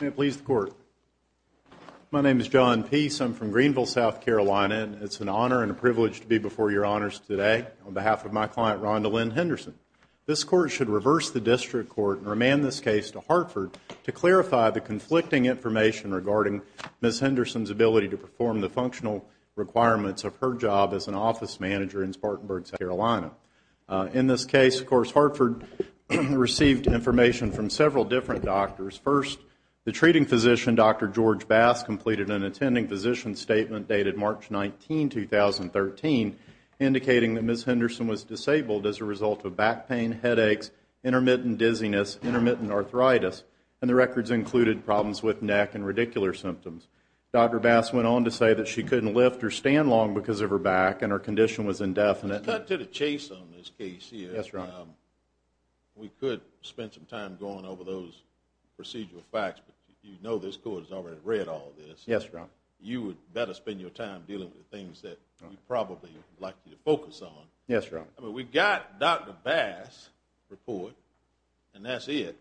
May it please the Court. My name is John Peace. I'm from Greenville, South Carolina. It's an honor and a privilege to be before Your Honors today on behalf of my client, Rhonda Lynn Henderson. This Court should reverse the district court and remand this case to Hartford to clarify the conflicting information regarding Ms. Henderson's ability to perform the functional requirements of her job as an office manager in Spartanburg, South Carolina. In this case, of course, Hartford received information from several different doctors. First, the treating physician, Dr. George Bass, completed an attending physician statement dated March 19, 2013, indicating that Ms. Henderson was disabled as a result of back pain, headaches, intermittent dizziness, intermittent arthritis, and the records included problems with neck and radicular symptoms. Dr. Bass went on to say that she couldn't lift or stand long because of her back and her condition was indefinite. Cut to the chase on this case here. Yes, Your Honor. We could spend some time going over those procedural facts, but you know this Court has already read all this. Yes, Your Honor. You would better spend your time dealing with the things that we'd probably like you to focus on. Yes, Your Honor. We got Dr. Bass' report, and that's it.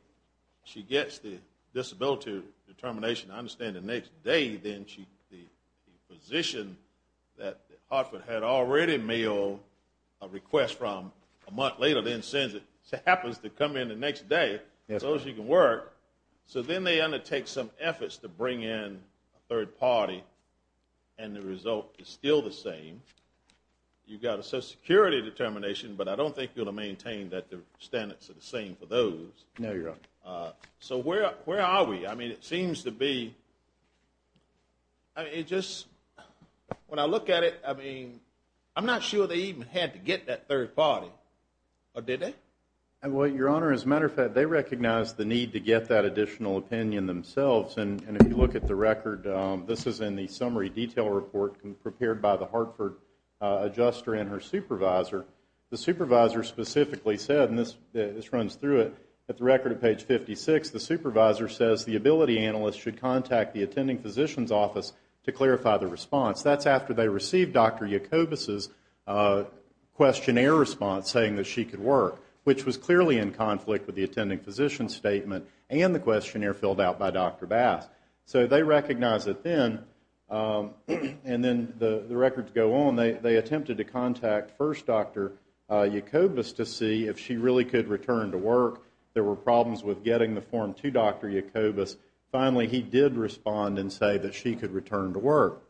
She gets the disability determination. I understand the next day then the physician that Hartford had already mailed a request from a month later then sends it, happens to come in the next day so she can work. So then they undertake some efforts to bring in a third party, and the result is still the same. You've got a social security determination, but I don't think you're going to maintain that the standards are the same for those. No, Your Honor. So where are we? I mean, it seems to be, it just, when I look at it, I mean, I'm not sure they even had to get that third party, or did they? Well, Your Honor, as a matter of fact, they recognized the need to get that additional opinion themselves, and if you look at the record, this is in the summary detail report prepared by the Hartford adjuster and her supervisor. The supervisor specifically said, and this runs through it, at the record of page 56, the supervisor says the ability analyst should contact the attending physician's office to clarify the response. That's after they received Dr. Jacobus' questionnaire response saying that she could work, which was clearly in conflict with the attending physician's statement and the questionnaire filled out by Dr. Bass. So they recognized it then, and then the records go on. They attempted to contact first Dr. Jacobus to see if she really could return to work. There were problems with getting the form to Dr. Jacobus. Finally, he did respond and say that she could return to work.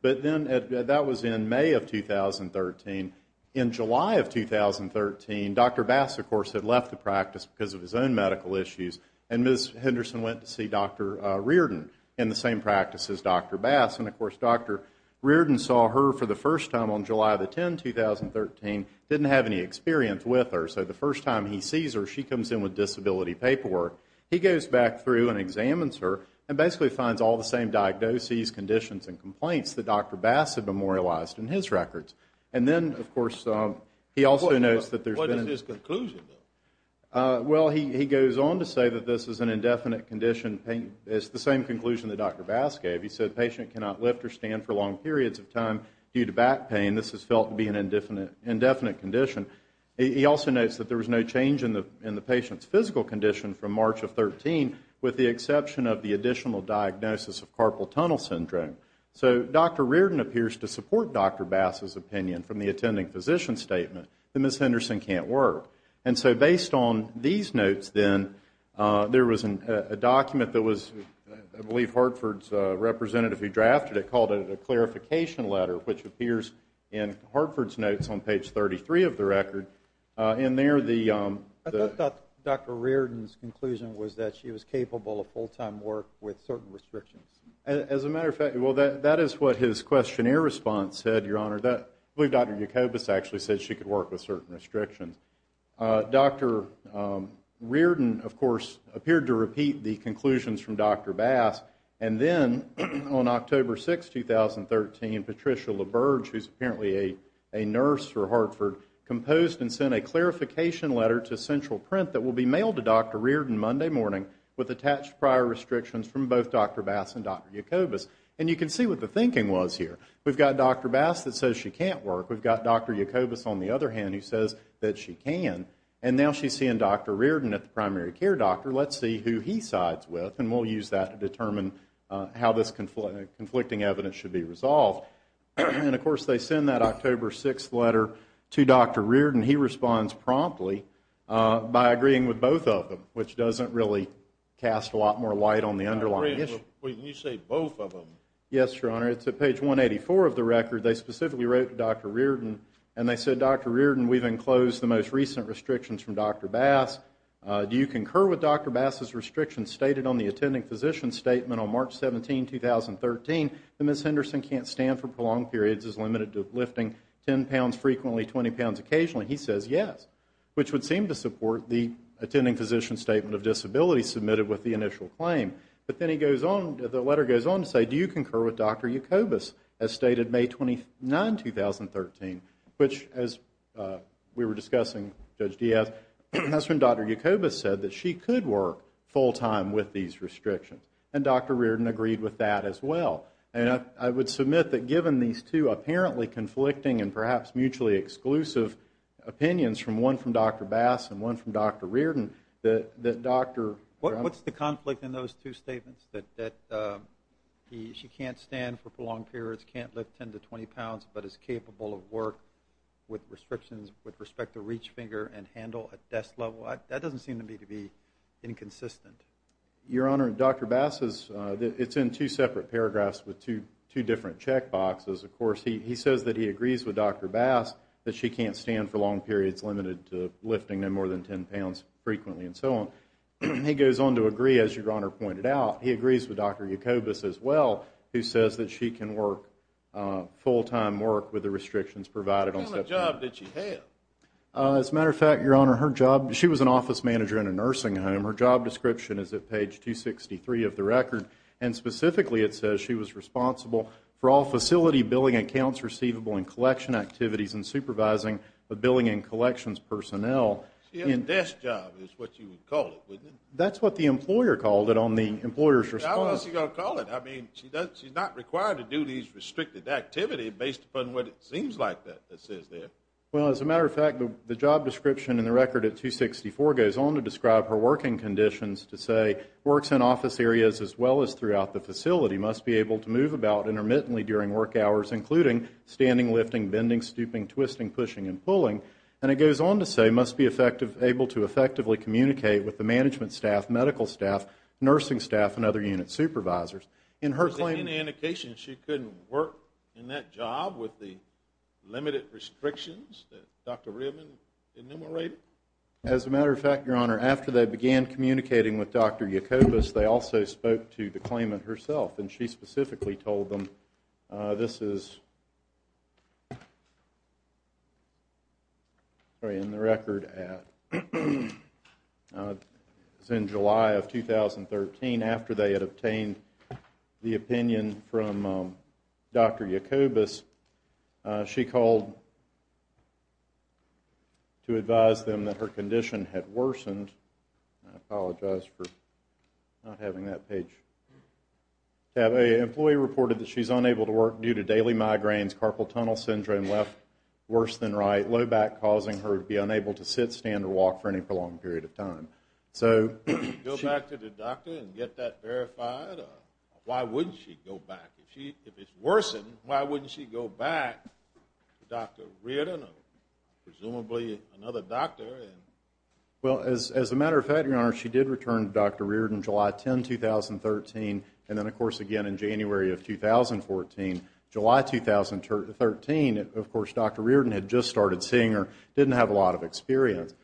But then that was in May of 2013. In July of 2013, Dr. Bass, of course, had left the practice because of his own medical issues, and Ms. Henderson went to see Dr. Reardon in the same practice as Dr. Bass, and, of course, Dr. Reardon saw her for the first time on July the 10th, 2013, didn't have any experience with her. So the first time he sees her, she comes in with disability paperwork. He goes back through and examines her and basically finds all the same diagnoses, conditions, and complaints that Dr. Bass had memorialized in his records. And then, of course, he also notes that there's been a... What is his conclusion, though? Well, he goes on to say that this is an indefinite condition. It's the same conclusion that Dr. Bass gave. He said the patient cannot lift or stand for long periods of time due to back pain. This is felt to be an indefinite condition. He also notes that there was no change in the patient's physical condition from March of 2013, with the exception of the additional diagnosis of carpal tunnel syndrome. So Dr. Reardon appears to support Dr. Bass's opinion from the attending physician statement that Ms. Henderson can't work. And so based on these notes, then, there was a document that was, I believe, Hartford's representative who drafted it called it a clarification letter, which appears in Hartford's notes on page 33 of the record. In there, the... I thought Dr. Reardon's conclusion was that she was capable of full-time work with certain restrictions. As a matter of fact, well, that is what his questionnaire response said, Your Honor. I believe Dr. Jacobus actually said she could work with certain restrictions. Dr. Reardon, of course, appeared to repeat the conclusions from Dr. Bass. And then on October 6, 2013, Patricia LaBerge, who's apparently a nurse for Hartford, composed and sent a clarification letter to Central Print that will be mailed to Dr. Reardon Monday morning with attached prior restrictions from both Dr. Bass and Dr. Jacobus. And you can see what the thinking was here. We've got Dr. Bass that says she can't work. We've got Dr. Jacobus, on the other hand, who says that she can. And now she's seeing Dr. Reardon at the primary care doctor. Let's see who he sides with, and we'll use that to determine how this conflicting evidence should be resolved. And, of course, they send that October 6 letter to Dr. Reardon. He responds promptly by agreeing with both of them, which doesn't really cast a lot more light on the underlying issue. Wait, you say both of them. Yes, Your Honor. It's at page 184 of the record. They specifically wrote to Dr. Reardon, and they said, Dr. Reardon, we've enclosed the most recent restrictions from Dr. Bass. Do you concur with Dr. Bass's restrictions stated on the attending physician's statement on March 17, 2013, that Ms. Henderson can't stand for prolonged periods as limited to lifting 10 pounds frequently, 20 pounds occasionally? He says yes, which would seem to support the attending physician's statement of disability submitted with the initial claim. But then he goes on, the letter goes on to say, do you concur with Dr. Jacobus as stated May 29, 2013, which, as we were discussing, Judge Diaz, that's when Dr. Jacobus said that she could work full-time with these restrictions. And Dr. Reardon agreed with that as well. And I would submit that given these two apparently conflicting and perhaps mutually exclusive opinions, from one from Dr. Bass and one from Dr. Reardon, that Dr. What's the conflict in those two statements, that she can't stand for prolonged periods, can't lift 10 to 20 pounds, but is capable of work with restrictions with respect to reach finger and handle at desk level? That doesn't seem to me to be inconsistent. Your Honor, Dr. Bass is, it's in two separate paragraphs with two different check boxes. Of course, he says that he agrees with Dr. Bass that she can't stand for long periods limited to lifting no more than 10 pounds frequently and so on. He goes on to agree, as Your Honor pointed out, he agrees with Dr. Jacobus as well, who says that she can work full-time work with the restrictions provided on step two. What kind of job did she have? As a matter of fact, Your Honor, her job, she was an office manager in a nursing home. Her job description is at page 263 of the record, and specifically it says she was responsible for all facility billing accounts receivable and collection activities and supervising the billing and collections personnel. She had a desk job is what you would call it, wouldn't it? That's what the employer called it on the employer's response. What else are you going to call it? I mean, she's not required to do these restricted activities based upon what it seems like that it says there. Well, as a matter of fact, the job description in the record at 264 goes on to describe her working conditions to say, works in office areas as well as throughout the facility must be able to move about intermittently during work hours, including standing, lifting, bending, stooping, twisting, pushing, and pulling. And it goes on to say, must be able to effectively communicate with the management staff, medical staff, nursing staff, and other unit supervisors. Is there any indication she couldn't work in that job with the limited restrictions that Dr. Ribman enumerated? As a matter of fact, Your Honor, after they began communicating with Dr. Yacobas, they also spoke to the claimant herself. And she specifically told them this is in the record as in July of 2013. After they had obtained the opinion from Dr. Yacobas, she called to advise them that her condition had worsened. I apologize for not having that page. An employee reported that she's unable to work due to daily migraines, carpal tunnel syndrome, left worse than right, low back causing her to be unable to sit, stand, or walk for any prolonged period of time. So go back to the doctor and get that verified? Why wouldn't she go back? If it's worsened, why wouldn't she go back to Dr. Ribman or presumably another doctor? Well, as a matter of fact, Your Honor, she did return to Dr. Reardon July 10, 2013. And then, of course, again in January of 2014. July 2013, of course, Dr. Reardon had just started seeing her, didn't have a lot of experience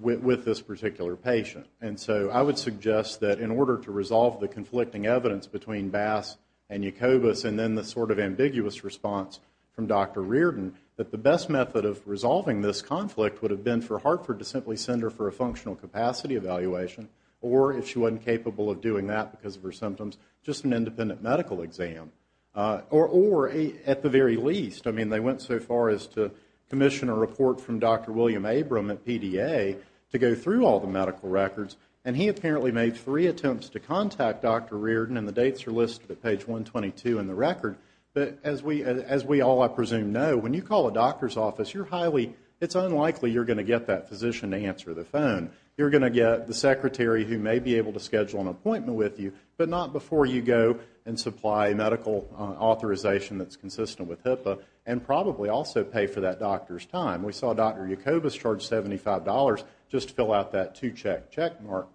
with this particular patient. And so I would suggest that in order to resolve the conflicting evidence between Bass and Yacobas and then the sort of ambiguous response from Dr. Reardon, that the best method of resolving this conflict would have been for Hartford to simply send her for a functional capacity evaluation or if she wasn't capable of doing that because of her symptoms, just an independent medical exam. Or at the very least, I mean, they went so far as to commission a report from Dr. William Abram at PDA to go through all the medical records. And he apparently made three attempts to contact Dr. Reardon, and the dates are listed at page 122 in the record. But as we all, I presume, know, when you call a doctor's office, you're highly, it's unlikely you're going to get that physician to answer the phone. You're going to get the secretary who may be able to schedule an appointment with you, but not before you go and supply medical authorization that's consistent with HIPAA and probably also pay for that doctor's time. We saw Dr. Yacobas charge $75 just to fill out that two-check checkmark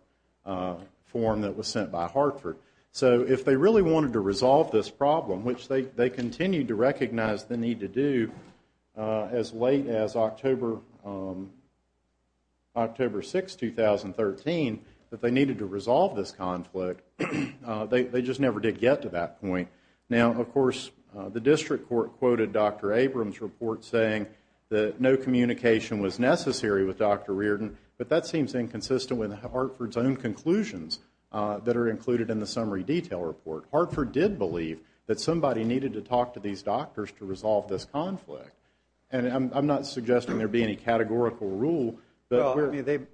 form that was sent by Hartford. So if they really wanted to resolve this problem, which they continued to recognize the need to do as late as October 6, 2013, that they needed to resolve this conflict, they just never did get to that point. Now, of course, the district court quoted Dr. Abram's report saying that no communication was necessary with Dr. Reardon, but that seems inconsistent with Hartford's own conclusions that are included in the summary detail report. Hartford did believe that somebody needed to talk to these doctors to resolve this conflict, and I'm not suggesting there be any categorical rule. Well, I mean,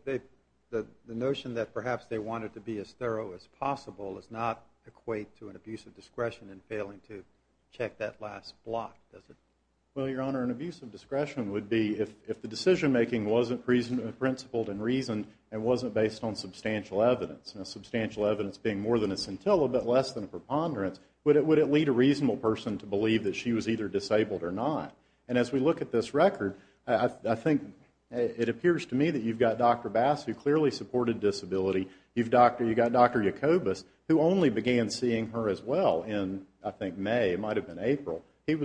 the notion that perhaps they wanted to be as thorough as possible does not equate to an abuse of discretion in failing to check that last block, does it? Well, Your Honor, an abuse of discretion would be if the decision-making wasn't principled and reasoned and wasn't based on substantial evidence, and substantial evidence being more than a scintilla but less than a preponderance, would it lead a reasonable person to believe that she was either disabled or not? And as we look at this record, I think it appears to me that you've got Dr. Bass, who clearly supported disability. You've got Dr. Yacobas, who only began seeing her as well in, I think, May. It might have been April. She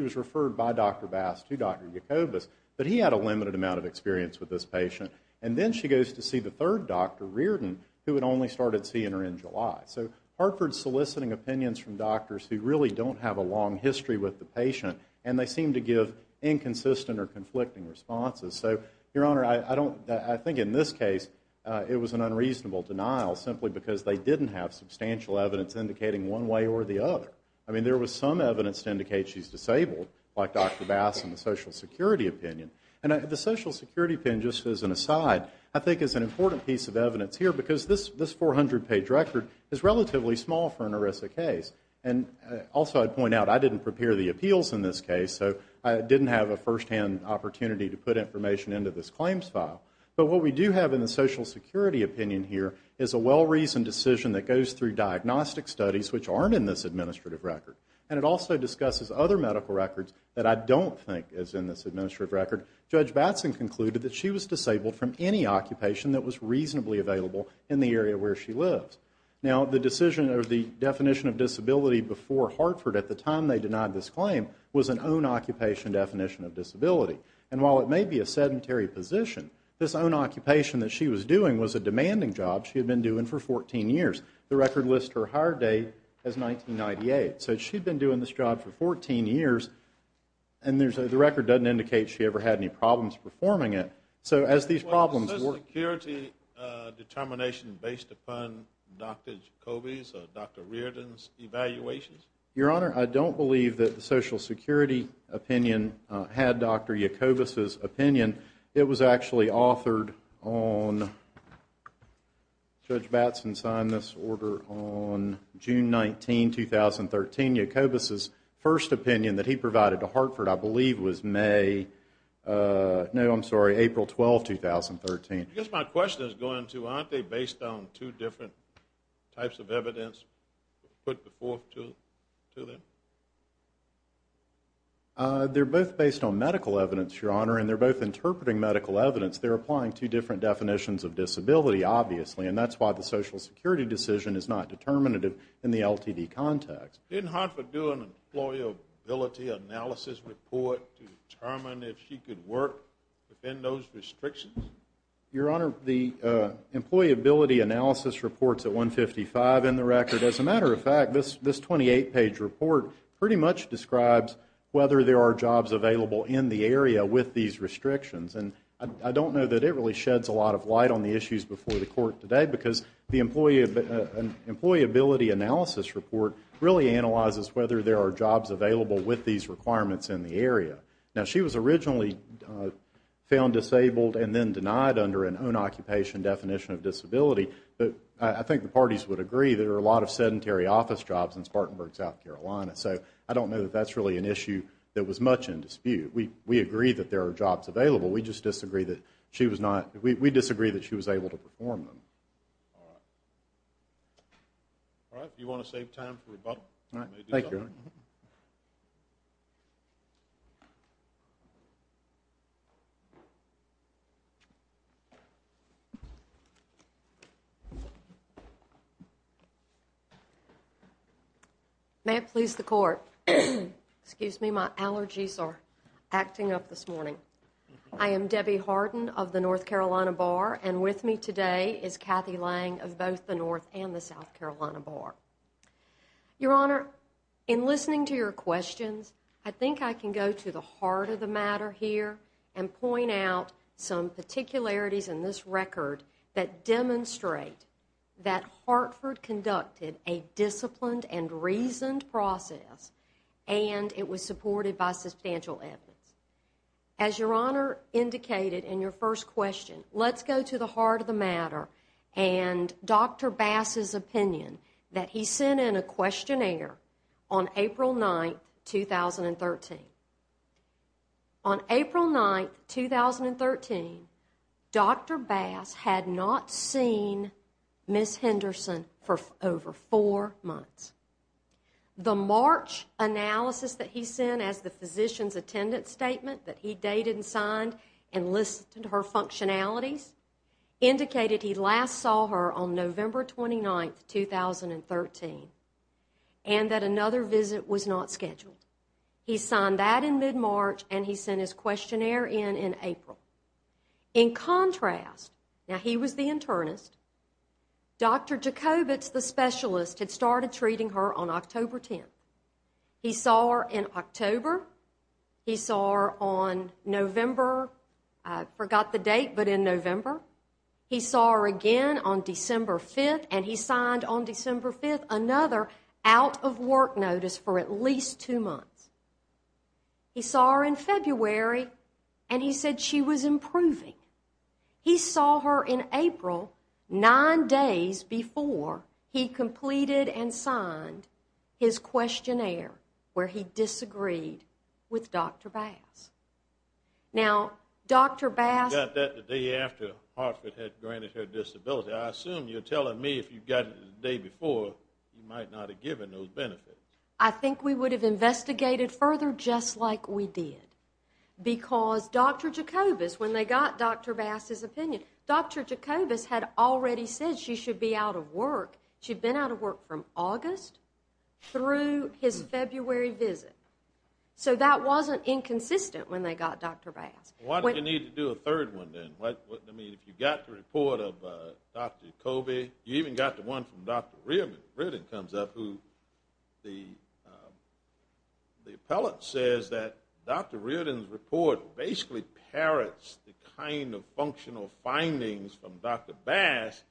was referred by Dr. Bass to Dr. Yacobas, but he had a limited amount of experience with this patient. And then she goes to see the third doctor, Reardon, who had only started seeing her in July. So Hartford's soliciting opinions from doctors who really don't have a long history with the patient, and they seem to give inconsistent or conflicting responses. So, Your Honor, I think in this case it was an unreasonable denial simply because they didn't have substantial evidence indicating one way or the other. I mean, there was some evidence to indicate she's disabled, like Dr. Bass and the Social Security opinion. And the Social Security opinion, just as an aside, I think is an important piece of evidence here because this 400-page record is relatively small for an ERISA case. And also I'd point out I didn't prepare the appeals in this case, so I didn't have a firsthand opportunity to put information into this claims file. But what we do have in the Social Security opinion here is a well-reasoned decision that goes through diagnostic studies which aren't in this administrative record. And it also discusses other medical records that I don't think is in this administrative record. Judge Batson concluded that she was disabled from any occupation that was reasonably available in the area where she lives. Now, the definition of disability before Hartford at the time they denied this claim was an own-occupation definition of disability. And while it may be a sedentary position, this own-occupation that she was doing was a demanding job. She had been doing it for 14 years. The record lists her hire date as 1998. So she'd been doing this job for 14 years, and the record doesn't indicate she ever had any problems performing it. So as these problems were— Was the Social Security determination based upon Dr. Jacobi's or Dr. Reardon's evaluations? Your Honor, I don't believe that the Social Security opinion had Dr. Jacobi's opinion. It was actually authored on—Judge Batson signed this order on June 19, 2013. Jacobi's first opinion that he provided to Hartford, I believe, was May—no, I'm sorry, April 12, 2013. I guess my question is going to aren't they based on two different types of evidence put forth to them? They're both based on medical evidence, Your Honor, and they're both interpreting medical evidence. They're applying two different definitions of disability, obviously, and that's why the Social Security decision is not determinative in the LTD context. Didn't Hartford do an employability analysis report to determine if she could work within those restrictions? Your Honor, the employability analysis report's at 155 in the record. As a matter of fact, this 28-page report pretty much describes whether there are jobs available in the area with these restrictions, and I don't know that it really sheds a lot of light on the issues before the Court today because the employability analysis report really analyzes whether there are jobs available with these requirements in the area. Now, she was originally found disabled and then denied under an own-occupation definition of disability, but I think the parties would agree there are a lot of sedentary office jobs in Spartanburg, South Carolina, so I don't know that that's really an issue that was much in dispute. We agree that there are jobs available. We just disagree that she was not – we disagree that she was able to perform them. All right. All right, if you want to save time for rebuttal, you may do so. Thank you, Your Honor. May it please the Court, excuse me, my allergies are acting up this morning. I am Debbie Harden of the North Carolina Bar, and with me today is Kathy Lange of both the North and the South Carolina Bar. Your Honor, in listening to your questions, I think I can go to the heart of the matter here and point out some particularities in this record that demonstrate that Hartford conducted a disciplined and reasoned process and it was supported by substantial evidence. As Your Honor indicated in your first question, let's go to the heart of the matter and Dr. Bass's opinion that he sent in a questionnaire on April 9, 2013. On April 9, 2013, Dr. Bass had not seen Ms. Henderson for over four months. The March analysis that he sent as the physician's attendance statement that he dated and signed and listened to her functionalities indicated he last saw her on November 29, 2013 and that another visit was not scheduled. He signed that in mid-March and he sent his questionnaire in in April. In contrast, now he was the internist, Dr. Jacobitz, the specialist, had started treating her on October 10. He saw her in October. He saw her on November. I forgot the date, but in November. He saw her again on December 5 and he signed on December 5 another out-of-work notice for at least two months. He saw her in February and he said she was improving. He saw her in April, nine days before he completed and signed his questionnaire where he disagreed with Dr. Bass. Now, Dr. Bass... I got that the day after Hartford had granted her disability. I assume you're telling me if you got it the day before, you might not have given those benefits. I think we would have investigated further just like we did because Dr. Jacobitz, when they got Dr. Bass's opinion, Dr. Jacobitz had already said she should be out of work. She'd been out of work from August through his February visit. So that wasn't inconsistent when they got Dr. Bass. Why did you need to do a third one then? I mean, if you got the report of Dr. Jacobitz, you even got the one from Dr. Reardon, who the appellate says that Dr. Reardon's report basically parrots the kind of functional findings from Dr. Bass,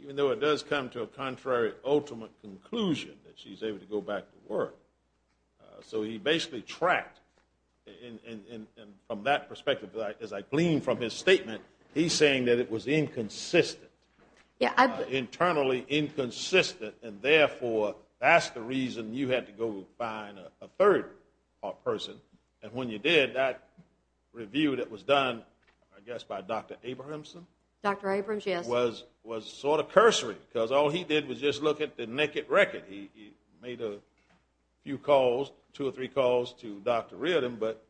even though it does come to a contrary ultimate conclusion that she's able to go back to work. So he basically tracked, and from that perspective, as I gleaned from his statement, he's saying that it was inconsistent, internally inconsistent, and therefore that's the reason you had to go find a third person. And when you did, that review that was done, I guess by Dr. Abramson? Dr. Abramson, yes. Was sort of cursory because all he did was just look at the naked record. He made a few calls, two or three calls to Dr. Reardon, but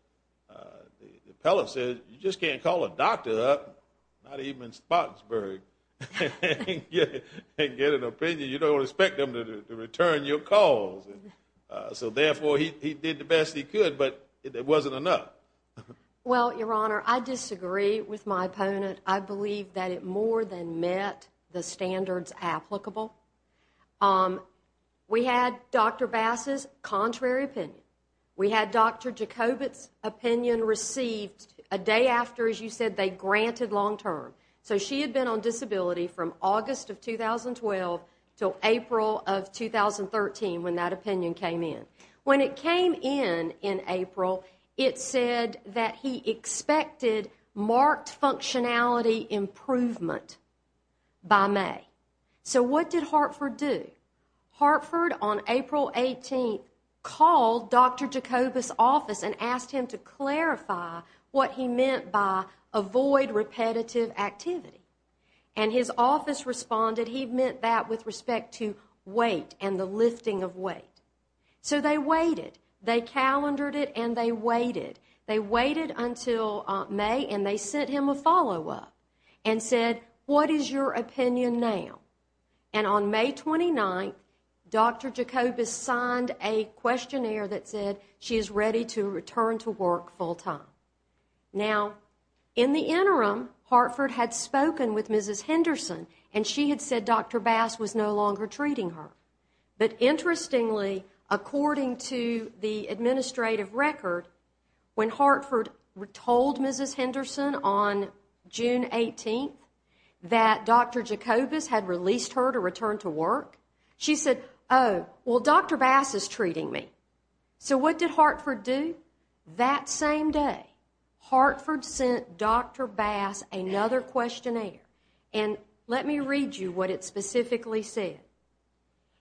the appellate said, you just can't call a doctor up, not even in Spotsburg, and get an opinion. You don't expect them to return your calls. So therefore he did the best he could, but it wasn't enough. Well, Your Honor, I disagree with my opponent. I believe that it more than met the standards applicable. We had Dr. Bass's contrary opinion. We had Dr. Jacobit's opinion received a day after, as you said, they granted long term. So she had been on disability from August of 2012 until April of 2013 when that opinion came in. When it came in in April, it said that he expected marked functionality improvement by May. So what did Hartford do? Hartford on April 18th called Dr. Jacobit's office and asked him to clarify what he meant by avoid repetitive activity. And his office responded he meant that with respect to weight and the lifting of weight. So they waited. They calendared it and they waited. They waited until May and they sent him a follow up and said, what is your opinion now? And on May 29th, Dr. Jacobit signed a questionnaire that said she is ready to return to work full time. Now, in the interim, Hartford had spoken with Mrs. Henderson and she had said Dr. Bass was no longer treating her. But interestingly, according to the administrative record, when Hartford told Mrs. Henderson on June 18th that Dr. Jacobit had released her to return to work, she said, oh, well, Dr. Bass is treating me. So what did Hartford do? That same day, Hartford sent Dr. Bass another questionnaire. And let me read you what it specifically said.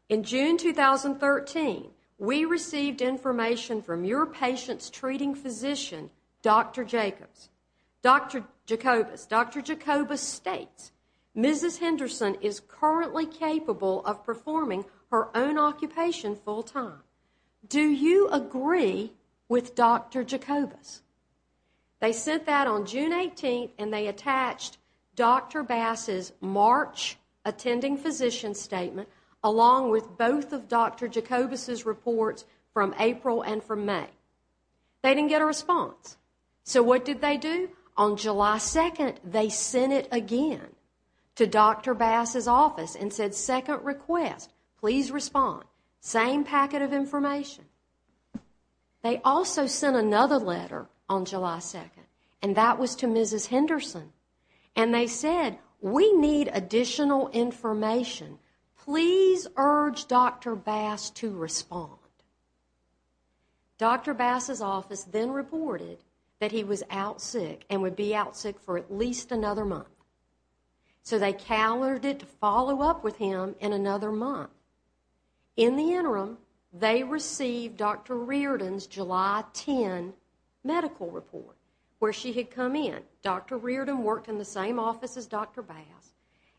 In June 2013, we received information from your patient's treating physician, Dr. Jacobit. Dr. Jacobit states, Mrs. Henderson is currently capable of performing her own occupation full time. Do you agree with Dr. Jacobit? They sent that on June 18th and they attached Dr. Bass's March attending physician statement along with both of Dr. Jacobit's reports from April and from May. They didn't get a response. So what did they do? On July 2nd, they sent it again to Dr. Bass's office and said, second request, please respond. Same packet of information. They also sent another letter on July 2nd, and that was to Mrs. Henderson. And they said, we need additional information. Please urge Dr. Bass to respond. Dr. Bass's office then reported that he was out sick and would be out sick for at least another month. So they callored it to follow up with him in another month. In the interim, they received Dr. Reardon's July 10 medical report where she had come in. Dr. Reardon worked in the same office as Dr. Bass.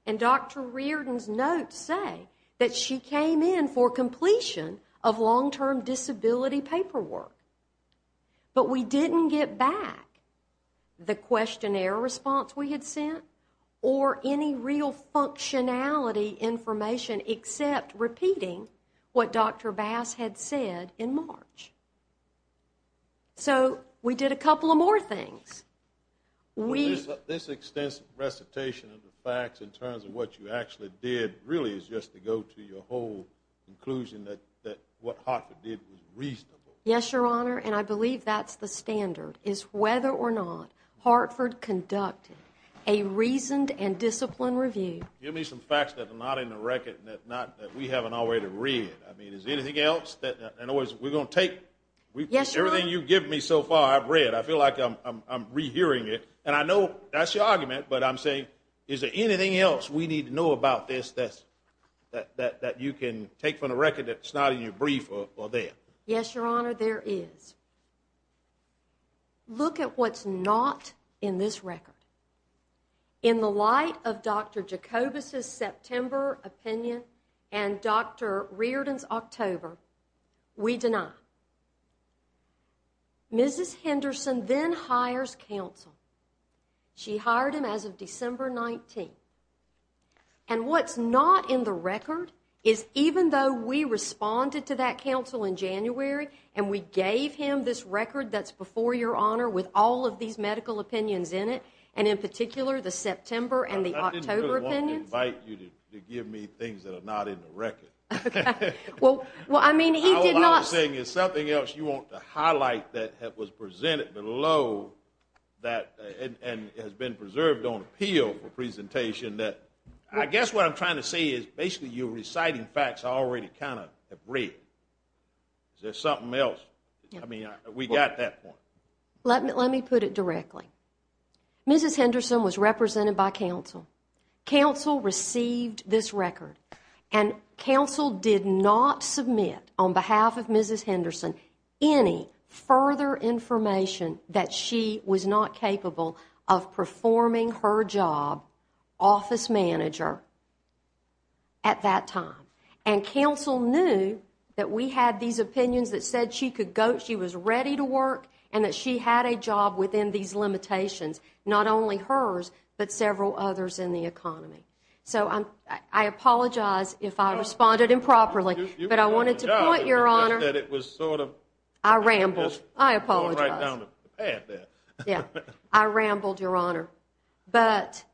And Dr. Reardon's notes say that she came in for completion of long-term disability paperwork. But we didn't get back the questionnaire response we had sent or any real functionality information except repeating what Dr. Bass had said in March. So we did a couple of more things. This extensive recitation of the facts in terms of what you actually did really is just to go to your whole conclusion that what Hartford did was reasonable. Yes, Your Honor, and I believe that's the standard, is whether or not Hartford conducted a reasoned and disciplined review. Give me some facts that are not in the record that we haven't already read. I mean, is there anything else? In other words, we're going to take everything you've given me so far I've read. I feel like I'm rehearing it. And I know that's your argument, but I'm saying, is there anything else we need to know about this that you can take from the record that's not in your brief or there? Yes, Your Honor, there is. Look at what's not in this record. In the light of Dr. Jacobus' September opinion and Dr. Reardon's October, we deny. Mrs. Henderson then hires counsel. She hired him as of December 19. And what's not in the record is even though we responded to that counsel in January and we gave him this record that's before Your Honor with all of these medical opinions in it, and in particular the September and the October opinions. I didn't really want to invite you to give me things that are not in the record. Well, I mean, he did not. What I'm saying is something else you want to highlight that was presented below and has been preserved on appeal for presentation. I guess what I'm trying to say is basically you're reciting facts I already kind of have read. Is there something else? I mean, we got that point. Let me put it directly. Mrs. Henderson was represented by counsel. Counsel received this record. And counsel did not submit on behalf of Mrs. Henderson any further information that she was not capable of performing her job, office manager, at that time. And counsel knew that we had these opinions that said she was ready to work and that she had a job within these limitations, not only hers but several others in the economy. So I apologize if I responded improperly. But I wanted to point, Your Honor, I rambled. I rambled, Your Honor. But,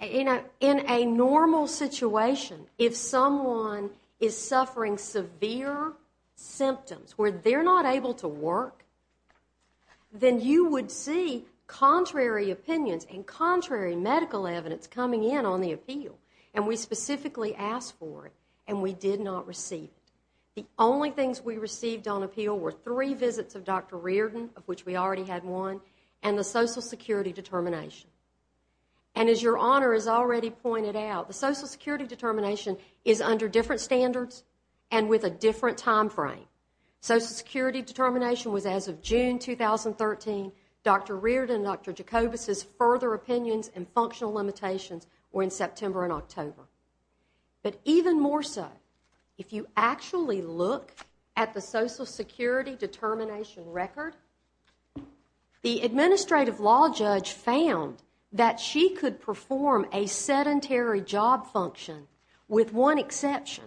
you know, in a normal situation, if someone is suffering severe symptoms where they're not able to work, then you would see contrary opinions and contrary medical evidence coming in on the appeal. And we specifically asked for it. And we did not receive it. The only things we received on appeal were three visits of Dr. Riordan, of which we already had one, and the Social Security determination. And as Your Honor has already pointed out, the Social Security determination is under different standards and with a different timeframe. Social Security determination was as of June 2013. Dr. Riordan and Dr. Jacobus' further opinions and functional limitations were in September and October. But even more so, if you actually look at the Social Security determination record, the administrative law judge found that she could perform a sedentary job function with one exception.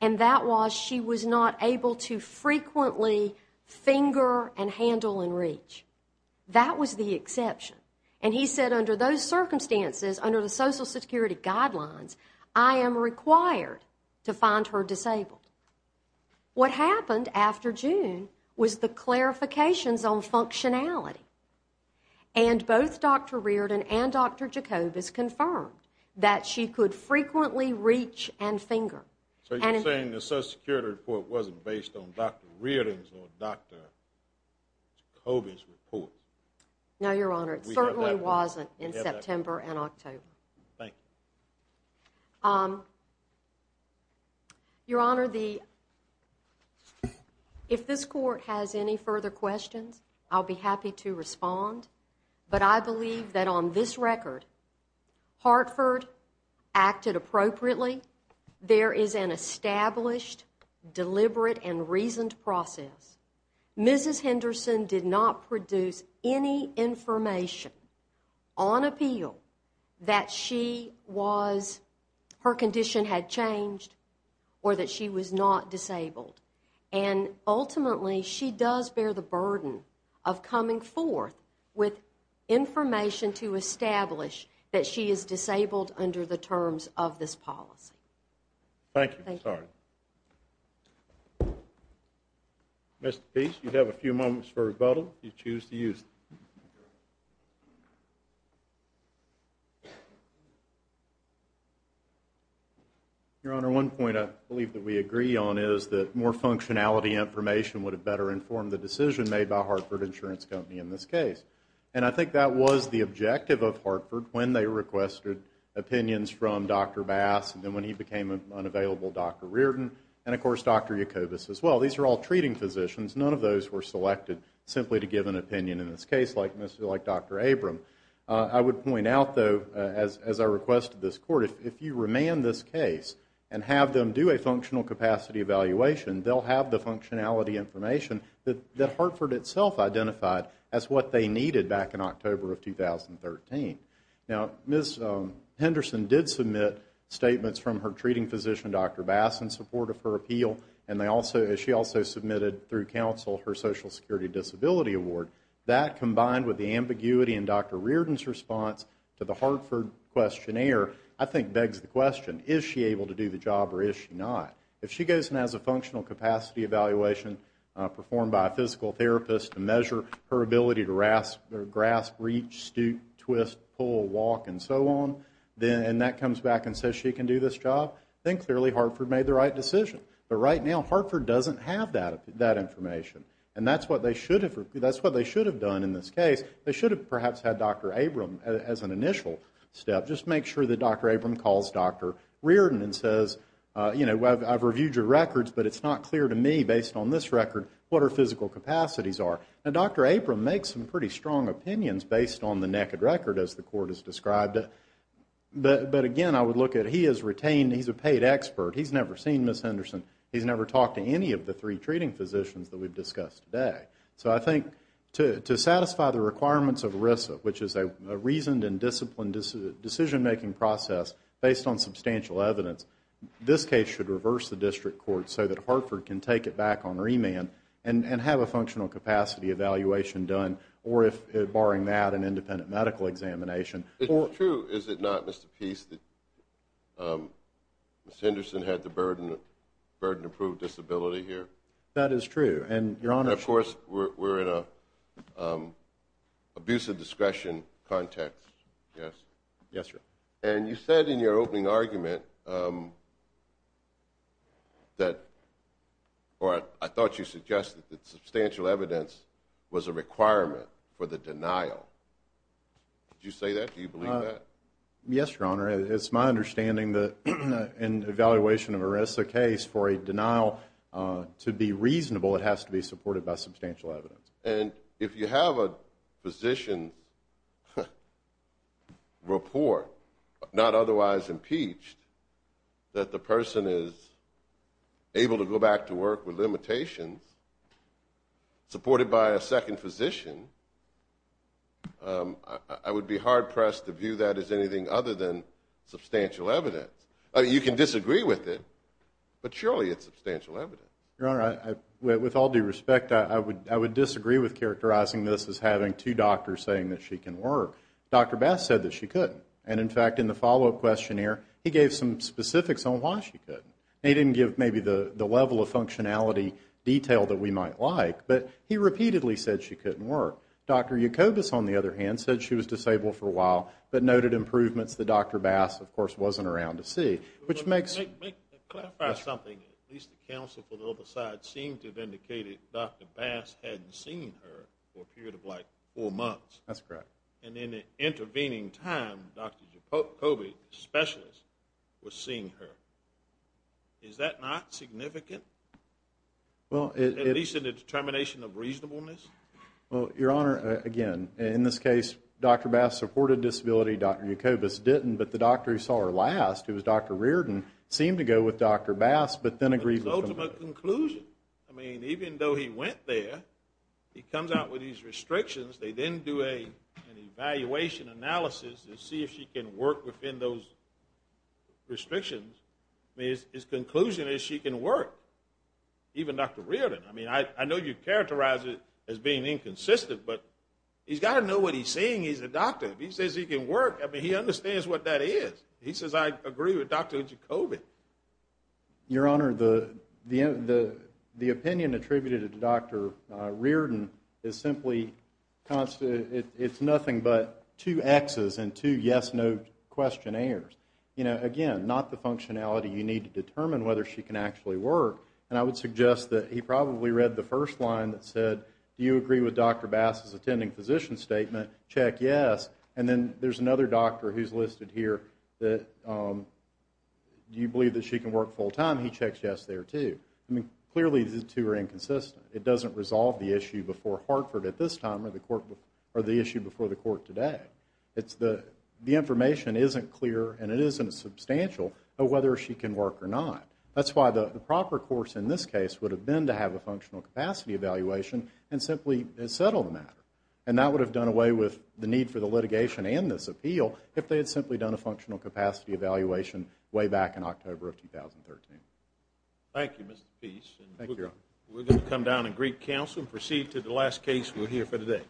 And that was she was not able to frequently finger and handle and reach. That was the exception. And he said under those circumstances, under the Social Security guidelines, I am required to find her disabled. What happened after June was the clarifications on functionality. And both Dr. Riordan and Dr. Jacobus confirmed that she could frequently reach and finger. So you're saying the Social Security report wasn't based on Dr. Riordan's or Dr. Jacobus' report? No, Your Honor. It certainly wasn't in September and October. Thank you. Your Honor, if this Court has any further questions, I'll be happy to respond. But I believe that on this record, Hartford acted appropriately. There is an established, deliberate, and reasoned process. Mrs. Henderson did not produce any information on appeal that her condition had changed or that she was not disabled. And ultimately, she does bear the burden of coming forth with information to establish that she is disabled under the terms of this policy. Thank you. Mr. Peace, you have a few moments for rebuttal if you choose to use them. Your Honor, one point I believe that we agree on is that more functionality information would have better informed the decision made by Hartford Insurance Company in this case. And I think that was the objective of Hartford when they requested opinions from Dr. Bass and then when he became unavailable, Dr. Riordan and, of course, Dr. Jacobus as well. These are all treating physicians. None of those were selected simply to give an opinion in this case like Dr. Abram. I would point out, though, as I requested this Court, if you remand this case and have them do a functional capacity evaluation, they'll have the functionality information that Hartford itself identified as what they needed back in October of 2013. Now, Ms. Henderson did submit statements from her treating physician, Dr. Bass, in support of her appeal. And she also submitted through counsel her Social Security Disability Award. That, combined with the ambiguity in Dr. Riordan's response to the Hartford questionnaire, I think begs the question, is she able to do the job or is she not? If she goes and has a functional capacity evaluation performed by a physical therapist to measure her ability to grasp, reach, stoop, twist, pull, walk, and so on, and that comes back and says she can do this job, then clearly Hartford made the right decision. But right now Hartford doesn't have that information. And that's what they should have done in this case. They should have perhaps had Dr. Abram as an initial step. Just make sure that Dr. Abram calls Dr. Riordan and says, you know, I've reviewed your records, but it's not clear to me, based on this record, what her physical capacities are. Now, Dr. Abram makes some pretty strong opinions based on the naked record, as the Court has described it. But, again, I would look at, he is retained, he's a paid expert. He's never seen Ms. Henderson. He's never talked to any of the three treating physicians that we've discussed today. So I think to satisfy the requirements of ERISA, which is a reasoned and disciplined decision-making process based on substantial evidence, this case should reverse the district court so that Hartford can take it back on remand and have a functional capacity evaluation done, or if, barring that, an independent medical examination. It's true, is it not, Mr. Peace, that Ms. Henderson had the burden to prove disability here? That is true. And, Your Honor, And, of course, we're in an abusive discretion context, yes? Yes, sir. And you said in your opening argument that, or I thought you suggested that substantial evidence was a requirement for the denial. Did you say that? Do you believe that? Yes, Your Honor. It's my understanding that in evaluation of an ERISA case, for a denial to be reasonable, it has to be supported by substantial evidence. And if you have a physician's report, not otherwise impeached, that the person is able to go back to work with limitations, supported by a second physician, I would be hard-pressed to view that as anything other than substantial evidence. You can disagree with it, but surely it's substantial evidence. Your Honor, with all due respect, I would disagree with characterizing this as having two doctors saying that she can work. Dr. Bass said that she couldn't. And, in fact, in the follow-up questionnaire, he gave some specifics on why she couldn't. He didn't give maybe the level of functionality detail that we might like, but he repeatedly said she couldn't work. Dr. Jacobus, on the other hand, said she was disabled for a while, but noted improvements that Dr. Bass, of course, wasn't around to see. Which makes… Let me clarify something. At least the counsel for the other side seemed to have indicated Dr. Bass hadn't seen her for a period of, like, four months. That's correct. And in the intervening time, Dr. Jacobus, the specialist, was seeing her. Is that not significant? Well, it… At least in the determination of reasonableness? Well, Your Honor, again, in this case, Dr. Bass supported disability, Dr. Jacobus didn't, but the doctor who saw her last, who was Dr. Reardon, seemed to go with Dr. Bass, but then agreed with him. I mean, even though he went there, he comes out with these restrictions. They then do an evaluation analysis to see if she can work within those restrictions. I mean, his conclusion is she can work, even Dr. Reardon. I mean, I know you characterize it as being inconsistent, but he's got to know what he's seeing. He's a doctor. If he says he can work, I mean, he understands what that is. He says, I agree with Dr. Jacobus. Your Honor, the opinion attributed to Dr. Reardon is simply, it's nothing but two X's and two yes-no questionnaires. You know, again, not the functionality you need to determine whether she can actually work. And I would suggest that he probably read the first line that said, do you agree with Dr. Bass's attending physician statement? Check yes. And then there's another doctor who's listed here that, do you believe that she can work full-time? He checks yes there, too. I mean, clearly the two are inconsistent. It doesn't resolve the issue before Hartford at this time or the issue before the court today. The information isn't clear and it isn't substantial of whether she can work or not. That's why the proper course in this case would have been to have a functional capacity evaluation and simply settle the matter. And that would have done away with the need for the litigation and this appeal if they had simply done a functional capacity evaluation way back in October of 2013. Thank you, Mr. Peace. Thank you, Your Honor. We're going to come down and greet counsel and proceed to the last case we'll hear for today.